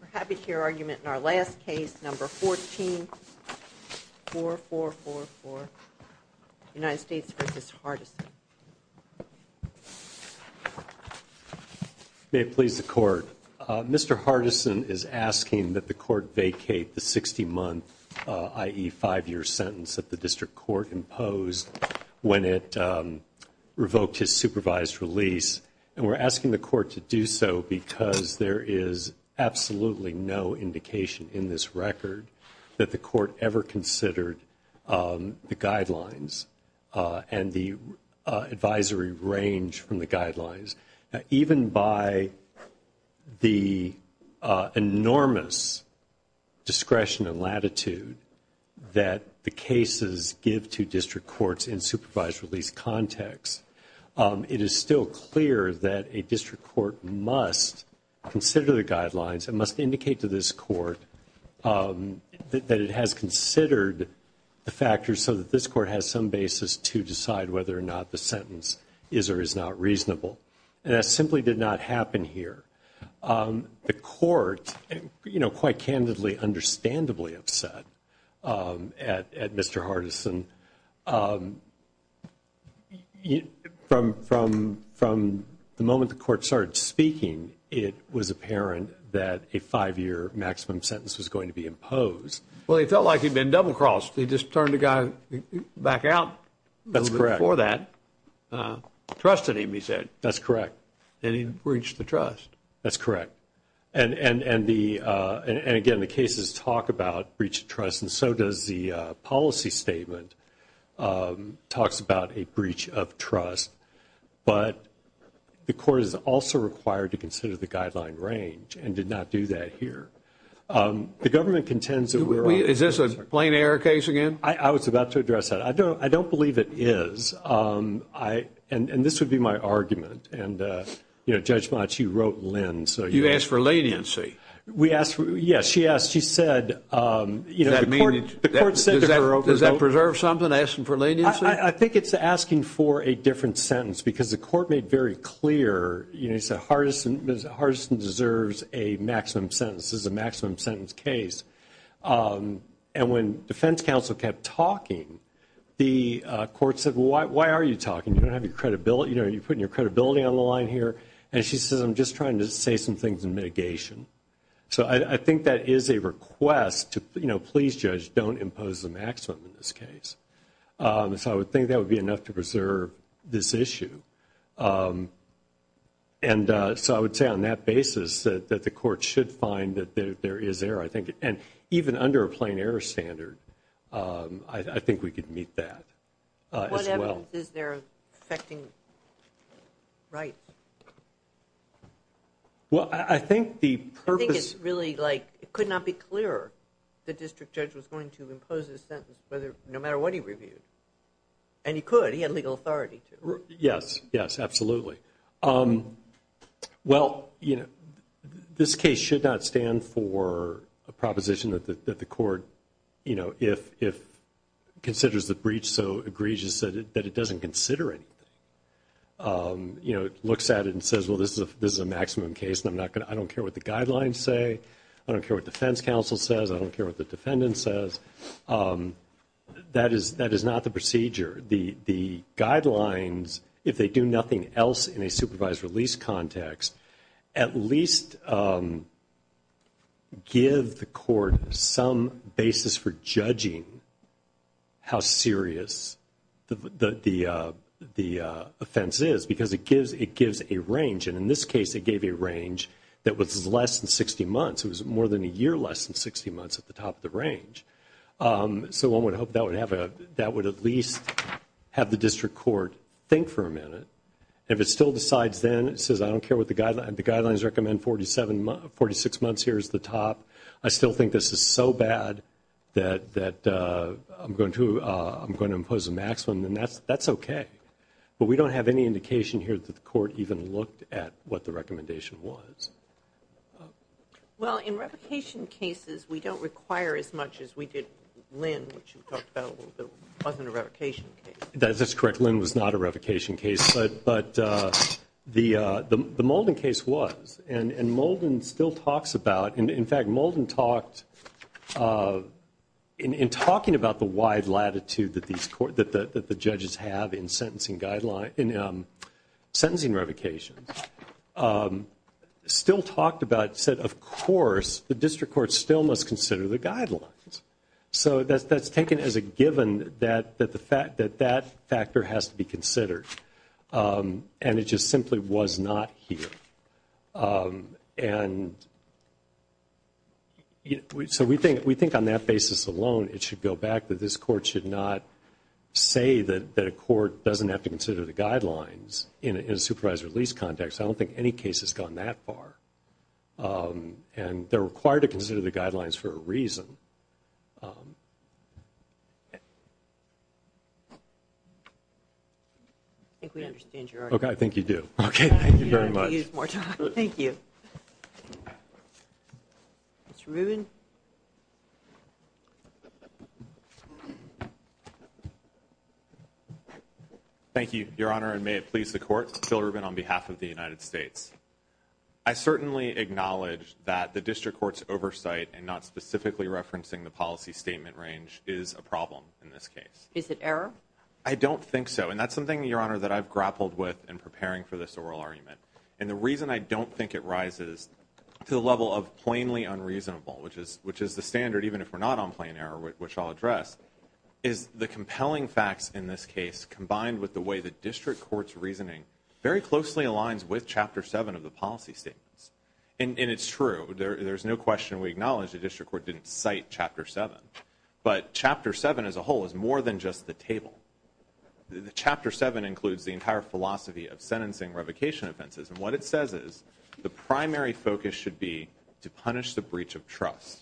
We're happy to hear argument in our last case, number 144444, United States v. Hardison. May it please the court. Mr. Hardison is asking that the court vacate the 60-month, i.e., five-year sentence that the district court imposed when it revoked his supervised release. And we're asking the court to do so because there is absolutely no indication in this record that the court ever considered the guidelines and the advisory range from the guidelines. Even by the enormous discretion and latitude that the cases give to district courts in supervised release context, it is still clear that a district court must consider the guidelines and must indicate to this court that it has considered the factors so that this court has some basis to decide whether or not the sentence is or is not reasonable. And that simply did not happen here. The court, you know, quite candidly, understandably upset at Mr. Hardison. From the moment the court started speaking, it was apparent that a five-year maximum sentence was going to be imposed. Well, he felt like he'd been double-crossed. He just turned the guy back out a little bit before that, trusted him, he said. That's correct. And he breached the trust. That's correct. And again, the cases talk about breach of trust, and so does the policy statement talks about a breach of trust, but the court is also required to consider the guideline range and did not do that here. Is this a plain error case again? I was about to address that. I don't believe it is. And this would be my argument. And, you know, Judge Motsch, you wrote Lynn. You asked for leniency. Yes, she asked. She said, you know, the court sent her over. Does that preserve something, asking for leniency? I think it's asking for a different sentence because the court made very clear, you know, he said, Mr. Hardison deserves a maximum sentence. This is a maximum sentence case. And when defense counsel kept talking, the court said, well, why are you talking? You don't have your credibility. You know, you're putting your credibility on the line here. And she says, I'm just trying to say some things in mitigation. So I think that is a request to, you know, please, Judge, don't impose a maximum in this case. So I would think that would be enough to preserve this issue. And so I would say on that basis that the court should find that there is error, I think. And even under a plain error standard, I think we could meet that as well. What evidence is there affecting rights? Well, I think the purpose... I think it's really like, it could not be clearer the district judge was going to impose a sentence, no matter what he reviewed. And he could, he had legal authority to. Yes, yes, absolutely. Well, you know, this case should not stand for a proposition that the court, you know, if considers the breach so egregious that it doesn't consider it. You know, it looks at it and says, well, this is a maximum case. And I'm not going to, I don't care what the guidelines say. I don't care what defense counsel says. I don't care what the defendant says. That is not the procedure. The guidelines, if they do nothing else in a supervised release context, at least give the court some basis for judging how serious the offense is. Because it gives a range. And in this case, it gave a range that was less than 60 months. It was more than a year less than 60 months at the top of the range. So one would hope that would at least have the district court think for a minute. If it still decides then, it says, I don't care what the guidelines, the guidelines recommend 46 months here is the top. I still think this is so bad that I'm going to impose a maximum. And that's okay. But we don't have any indication here that the court even looked at what the recommendation was. Well, in revocation cases, we don't require as much as we did Lynn, which you talked about a little bit. It wasn't a revocation case. That's correct. Lynn was not a revocation case. But the Molden case was. And Molden still talks about, in fact, Molden talked, in talking about the wide latitude that the judges have in sentencing revocations, still talked about, said, of course, the district court still must consider the guidelines. So that's taken as a given that that factor has to be considered. And it just simply was not here. And so we think on that basis alone, it should go back that this court should not say that a court doesn't have to consider the guidelines in a supervised release context. I don't think any case has gone that far. And they're required to consider the guidelines for a reason. I think we understand your argument. I think you do. Okay, thank you very much. Thank you. Mr. Rubin. Thank you, Your Honor, and may it please the Court. Phil Rubin on behalf of the United States. I certainly acknowledge that the district court's oversight and not specifically referencing the policy statement range is a problem in this case. Is it error? I don't think so. And that's something, Your Honor, that I've grappled with in preparing for this oral argument. And the reason I don't think it rises to the level of plainly unreasonable, which is the standard even if we're not on plain error, which I'll address, is the compelling facts in this case combined with the way the district court's reasoning very closely aligns with Chapter 7 of the policy statements. And it's true. There's no question we acknowledge the district court didn't cite Chapter 7. But Chapter 7 as a whole is more than just the table. Chapter 7 includes the entire philosophy of sentencing revocation offenses. And what it says is the primary focus should be to punish the breach of trust.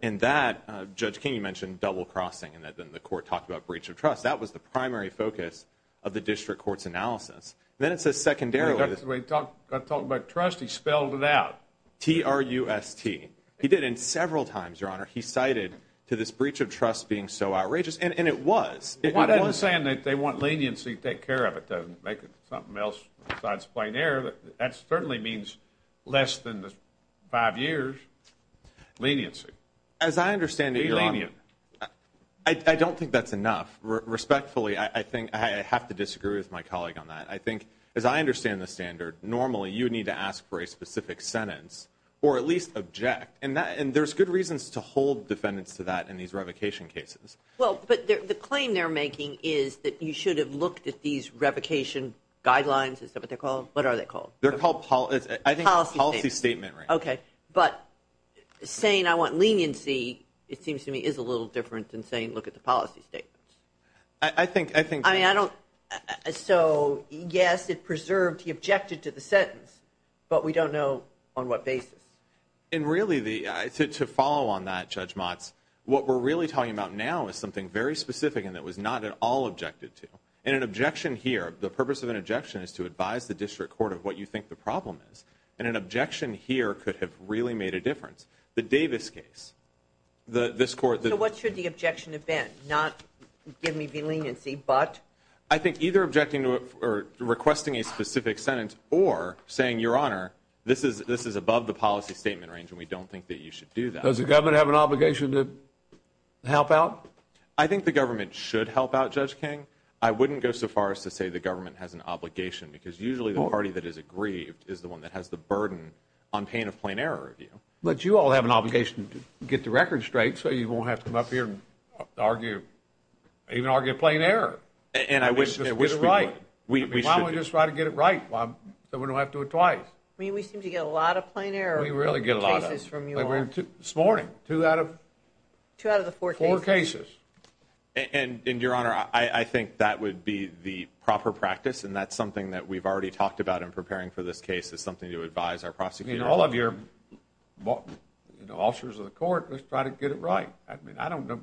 And that, Judge King, you mentioned double-crossing and then the court talked about breach of trust. That was the primary focus of the district court's analysis. Then it says secondarily... When he talked about trust, he spelled it out. T-R-U-S-T. He did it several times, Your Honor. He cited to this breach of trust being so outrageous. And it was. I'm not saying that they want leniency to take care of it, to make it something else besides plain error. That certainly means less than the five years leniency. As I understand it, Your Honor... Be lenient. I don't think that's enough. Respectfully, I think I have to disagree with my colleague on that. I think as I understand the standard, normally you need to ask for a specific sentence or at least object. And there's good reasons to hold defendants to that in these revocation cases. But the claim they're making is that you should have looked at these revocation guidelines. Is that what they're called? What are they called? They're called policy statements. Okay. But saying I want leniency, it seems to me, is a little different than saying look at the policy statements. I think... So, yes, it preserved... He objected to the sentence. But we don't know on what basis. And really, to follow on that, Judge Motz, what we're really talking about now is something very specific and that was not at all objected to. And an objection here... The purpose of an objection is to advise the district court of what you think the problem is. And an objection here could have really made a difference. The Davis case. This court... So what should the objection have been? Not give me leniency, but... I think either objecting or requesting a specific sentence or saying, Your Honor, this is above the policy statement range and we don't think that you should do that. Does the government have an obligation to help out? I think the government should help out, Judge King. I wouldn't go so far as to say the government has an obligation because usually the party that is aggrieved is the one that has the burden on paying a plain error review. But you all have an obligation to get the record straight so you won't have to come up here and argue... even argue a plain error. And I wish... Why don't we just try to get it right so we don't have to do it twice? I mean, we seem to get a lot of plain error cases from you all. We really get a lot of them. This morning, two out of... Two out of the four cases. And, Your Honor, I think that would be the proper practice, and that's something that we've already talked about in preparing for this case is something to advise our prosecutors. All of your officers of the court must try to get it right. I mean, I don't know...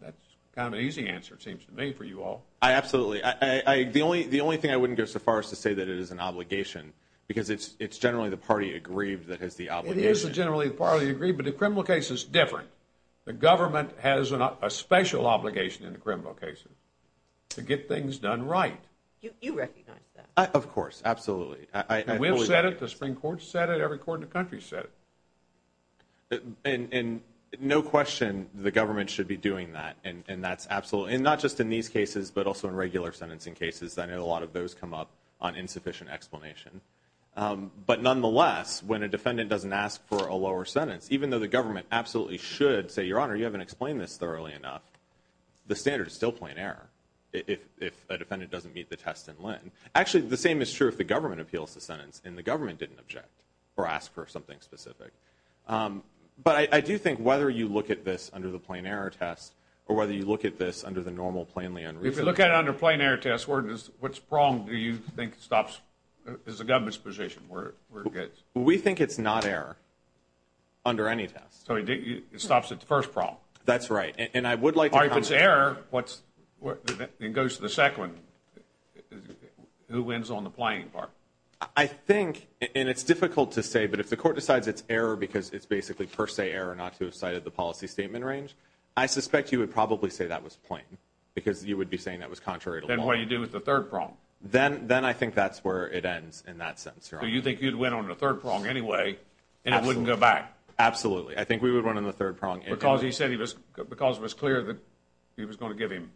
That's kind of an easy answer, it seems to me, for you all. I absolutely... The only thing I wouldn't go so far as to say that it is an obligation, because it's generally the party aggrieved that has the obligation. It is generally the party aggrieved, but the criminal case is different. The government has a special obligation in the criminal case to get things done right. You recognize that. Of course, absolutely. And we've said it, the Supreme Court's said it, every court in the country's said it. And no question the government should be doing that, and not just in these cases, but also in regular sentencing cases. I know a lot of those come up on insufficient explanation. But nonetheless, when a defendant doesn't ask for a lower sentence, even though the government absolutely should say, Your Honor, you haven't explained this thoroughly enough, the standard is still plain error if a defendant doesn't meet the test in Lynn. Actually, the same is true if the government appeals the sentence and the government didn't object or ask for something specific. But I do think whether you look at this under the plain error test, or whether you look at this under the normal plainly unreasonable... If you look at it under a plain error test, what's wrong do you think stops the government's position? We think it's not error. Under any test. So it stops at the first problem. That's right. If it's error, it goes to the second. Who wins on the plain part? I think, and it's difficult to say, but if the court decides it's error because it's basically per se error not to have cited the policy statement range, I suspect you would probably say that was plain. Because you would be saying that was contrary to law. Then what do you do with the third prong? Then I think that's where it ends, in that sense, Your Honor. So you think you'd win on the third prong anyway and it wouldn't go back? Absolutely. I think we would win on the third prong. Because he said it was clear that he was going to give him...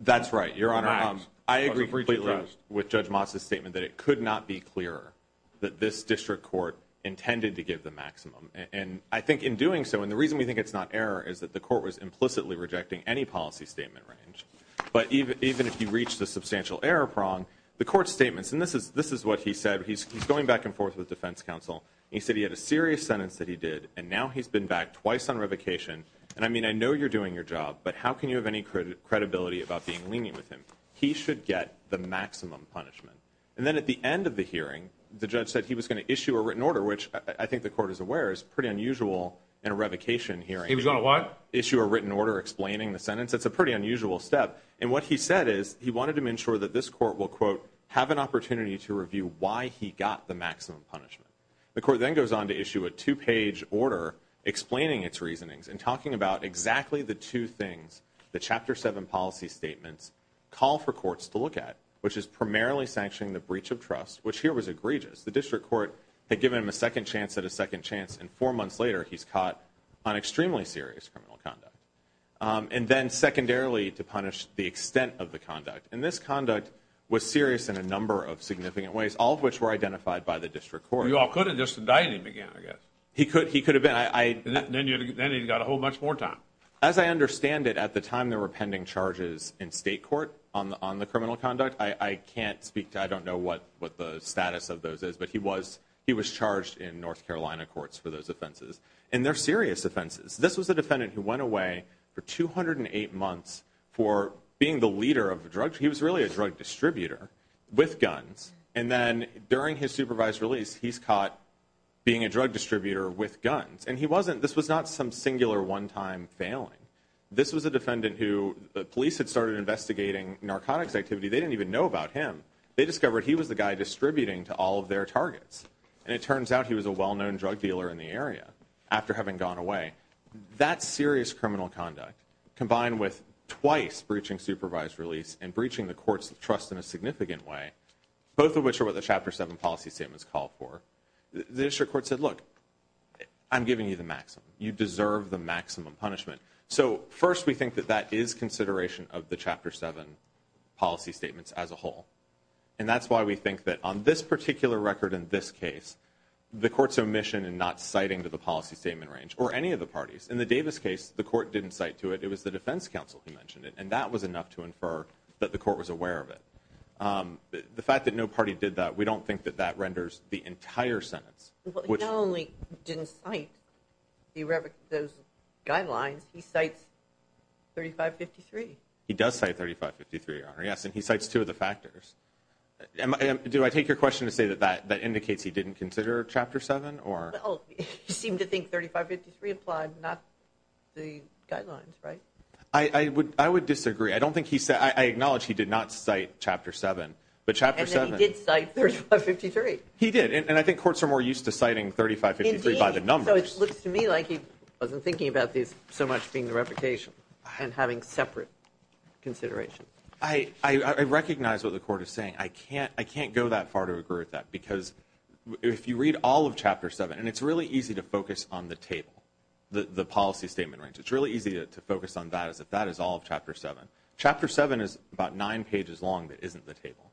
That's right, Your Honor. I agree completely with Judge Motz's statement that it could not be clearer that this district court intended to give the maximum. And I think in doing so, and the reason we think it's not error is that the court was implicitly rejecting any policy statement range. But even if you reach the substantial error prong, the court's statements, and this is what he said. He's going back and forth with defense counsel and he said he had a serious sentence that he did and now he's been back twice on revocation. And I mean, I know you're doing your job, but how can you have any credibility about being lenient with him? He should get the maximum punishment. And then at the end of the hearing, the judge said he was going to issue a written order, which I think the court is aware is pretty unusual in a revocation hearing. He was going to what? Issue a written order explaining the sentence. It's a pretty unusual step. And what he said is he wanted to ensure that this court will, quote, have an opportunity to review why he got the maximum punishment. The court then goes on to issue a two-page order explaining its reasonings and talking about exactly the two things that Chapter 7 policy statements call for courts to look at, which is primarily sanctioning the breach of trust, which here was egregious. The district court had given him a second chance at a second chance and four months later he's caught on extremely serious criminal conduct. And then secondarily, to punish the extent of the conduct. And this conduct was serious in a number of significant ways, all of which were identified by the district court. You all could have just indicted him again, I guess. He could have been. Then he got a whole bunch more time. As I understand it, at the time there were pending charges in state court on the criminal conduct, I can't speak to, I don't know what the status of those is, but he was charged in North Carolina courts for those offenses. And they're serious offenses. This was a defendant who went away for 208 months for being the leader of a drug, he was really a drug distributor, with guns, and then during his supervised release he's caught being a drug distributor with guns. And this was not some singular one-time failing. This was a defendant who the police had started investigating narcotics activity, they didn't even know about him. They discovered he was the guy distributing to all of their targets. And it turns out he was a well-known drug dealer in the area after having gone away. That serious criminal conduct, combined with twice breaching supervised release and breaching the court's trust in a significant way, both of which are what the Chapter 7 policy statements call for, the district court said, look, I'm giving you the maximum. You deserve the maximum punishment. So, first we think that that is consideration of the Chapter 7 policy statements as a whole. And that's why we think that on this particular record in this case, the court's omission in not citing to the policy statement range, or any of the parties, in the Davis case, the court didn't cite to it, it was the defense counsel who mentioned it, and that was enough to infer that the court was aware of it. The fact that no party did that, we don't think that that renders the entire sentence. Well, he not only didn't cite those guidelines, he cites 3553. He does cite 3553, Your Honor. Yes, and he cites two of the factors. Do I take your question to say that that indicates he didn't consider Chapter 7? Well, you seem to think 3553 applied, not the guidelines, right? I would disagree. I acknowledge he did not cite Chapter 7, but Chapter 7... And then he did cite 3553. He did, and I think courts are more used to citing 3553 by the numbers. So it looks to me like he wasn't thinking about these so much being the reputation, and having separate consideration. I recognize what the court is saying. I can't go that far to agree with that, because if you read all of Chapter 7, and it's really easy to focus on the table, the policy statement range. It's really easy to Chapter 7 is about nine pages long that isn't the table.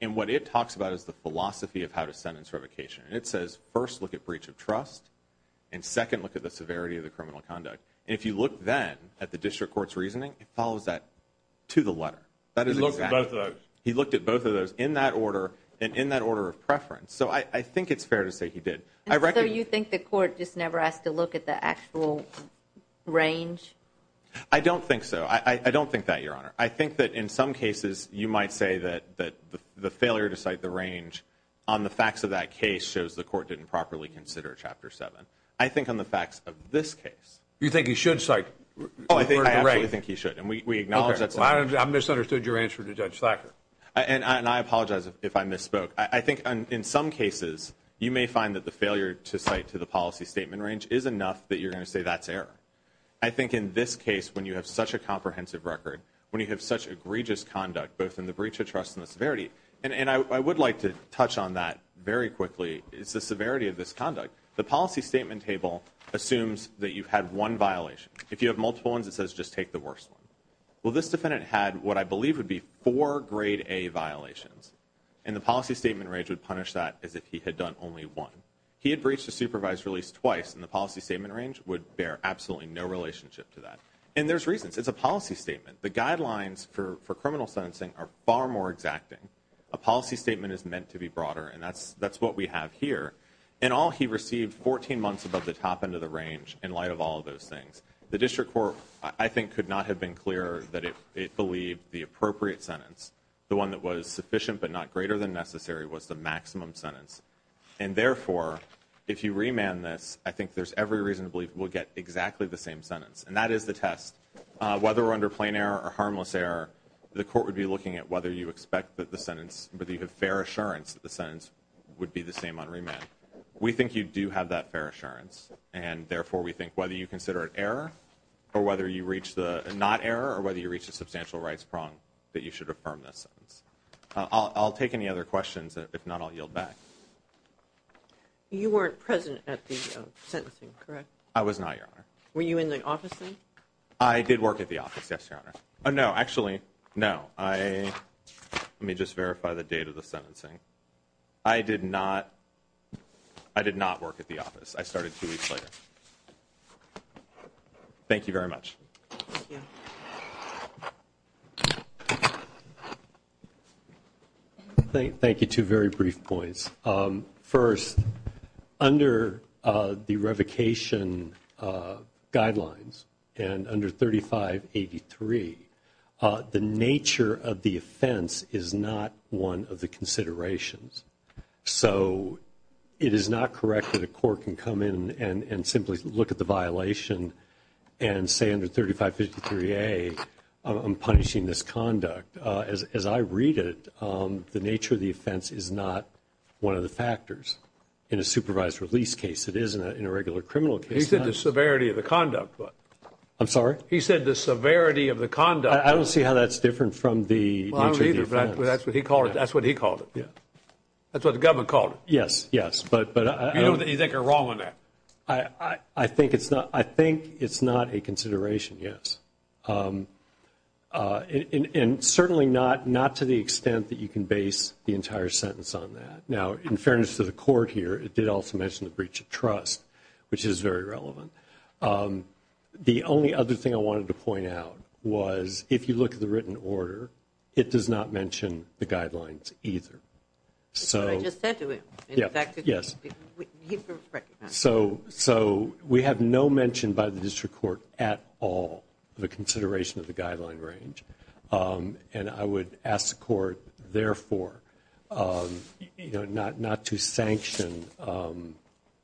And what it talks about is the philosophy of how to sentence revocation. And it says, first, look at breach of trust, and second, look at the severity of the criminal conduct. And if you look then at the district court's reasoning, it follows that to the letter. He looked at both of those. In that order, and in that order of preference. So I think it's fair to say he did. So you think the court just never asked to look at the actual range? I don't think so. I don't think that, Your Honor. I think that in some cases you might say that the failure to cite the range on the facts of that case shows the court didn't properly consider Chapter 7. I think on the facts of this case. You think he should cite? I absolutely think he should. And we acknowledge that's... I misunderstood your answer to Judge Thacker. And I apologize if I misspoke. I think in some cases you may find that the failure to cite to the policy statement range is enough that you're going to say that's error. I think in this case when you have such a comprehensive record, when you have such egregious conduct, both in the breach of trust and the severity, and I would like to touch on that very quickly, is the severity of this conduct. The policy statement table assumes that you had one violation. If you have multiple ones, it says just take the worst one. Well, this defendant had what I believe would be four Grade A violations. And the policy statement range would punish that as if he had done only one. He had breached the supervised release twice, and the policy statement range would bear absolutely no relationship to that. And there's reasons. It's a policy statement. The guidelines for criminal sentencing are far more exacting. A policy statement is meant to be broader, and that's what we have here. In all, he received 14 months above the top end of the range in light of all of those things. The District Court, I think, could not have been clearer that it believed the appropriate sentence, the one that was sufficient but not greater than necessary, was the maximum sentence. And therefore, if you remand this, I think there's every reason to believe we'll get exactly the same sentence. And that is the test. Whether we're under plain error or harmless error, the court would be looking at whether you expect that the sentence, whether you have fair assurance that the sentence would be the same on remand. We think you do have that fair assurance. And therefore, we think whether you consider it error, or whether you reach the not error, or whether you reach the substantial rights prong, that you should affirm that sentence. I'll take any other questions. If not, I'll yield back. You weren't present at the sentencing, correct? I was not, Your Honor. Were you in the office then? I did work at the office, yes, Your Honor. Oh, no, actually, no, I let me just verify the date of the sentencing. I did not I did not work at the office. I started two weeks later. Thank you very much. Thank you. Let me make two very brief points. First, under the revocation guidelines, and under 3583, the nature of the offense is not one of the considerations. So, it is not correct that a court can come in and simply look at the violation and say under 3553A, I'm punishing this conduct. As I read it, the nature of the offense is not one of the factors in a supervised release case. It is in a regular criminal case. He said the severity of the conduct. I'm sorry? He said the severity of the conduct. I don't see how that's different from the nature of the offense. That's what he called it. That's what he called it. That's what the government called it. Yes, yes. You think you're wrong on that? I think it's not a consideration, yes. And certainly not to the extent that you can base the entire sentence on that. Now, in fairness to the court here, it did also mention the breach of trust, which is very relevant. The only other thing I wanted to point out was if you look at the written order, it does not mention the guidelines either. That's what I just said to him. Yes. So, we have no mention by the district court at all of a consideration of the guideline range. And I would ask the court therefore not to sanction,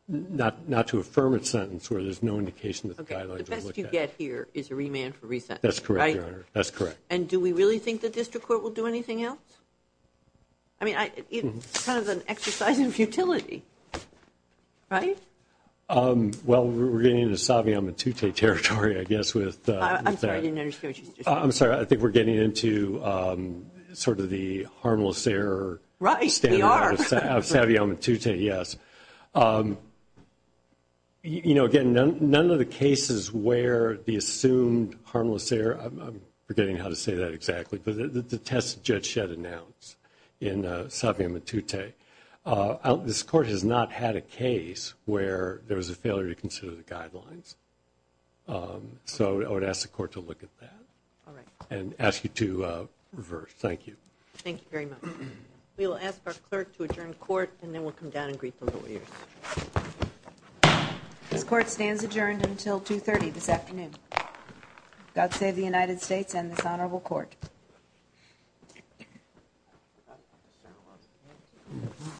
not to affirm its sentence where there's no indication that the guidelines are looked at. The best you get here is a remand for resent. That's correct, Your Honor. And do we really think the district court will do anything else? I mean, it's kind of an exercise in futility. Right? Well, we're getting into Savio Matute territory, I guess, with that. I'm sorry, I didn't understand what you were saying. I'm sorry, I think we're getting into sort of the harmless error standard. Right, we are. Savio Matute, yes. You know, again, none of the cases where the assumed harmless error I'm forgetting how to say that exactly, but the test Judge Shedd announced in Savio Matute. This court has not had a case where there was a failure to consider the guidelines. So, I would ask the court to look at that. And ask you to reverse. Thank you. Thank you very much. We will ask our clerk to adjourn court and then we'll come down and greet the lawyers. This court stands adjourned until 2.30 this afternoon. God save the United States and this Honorable Court.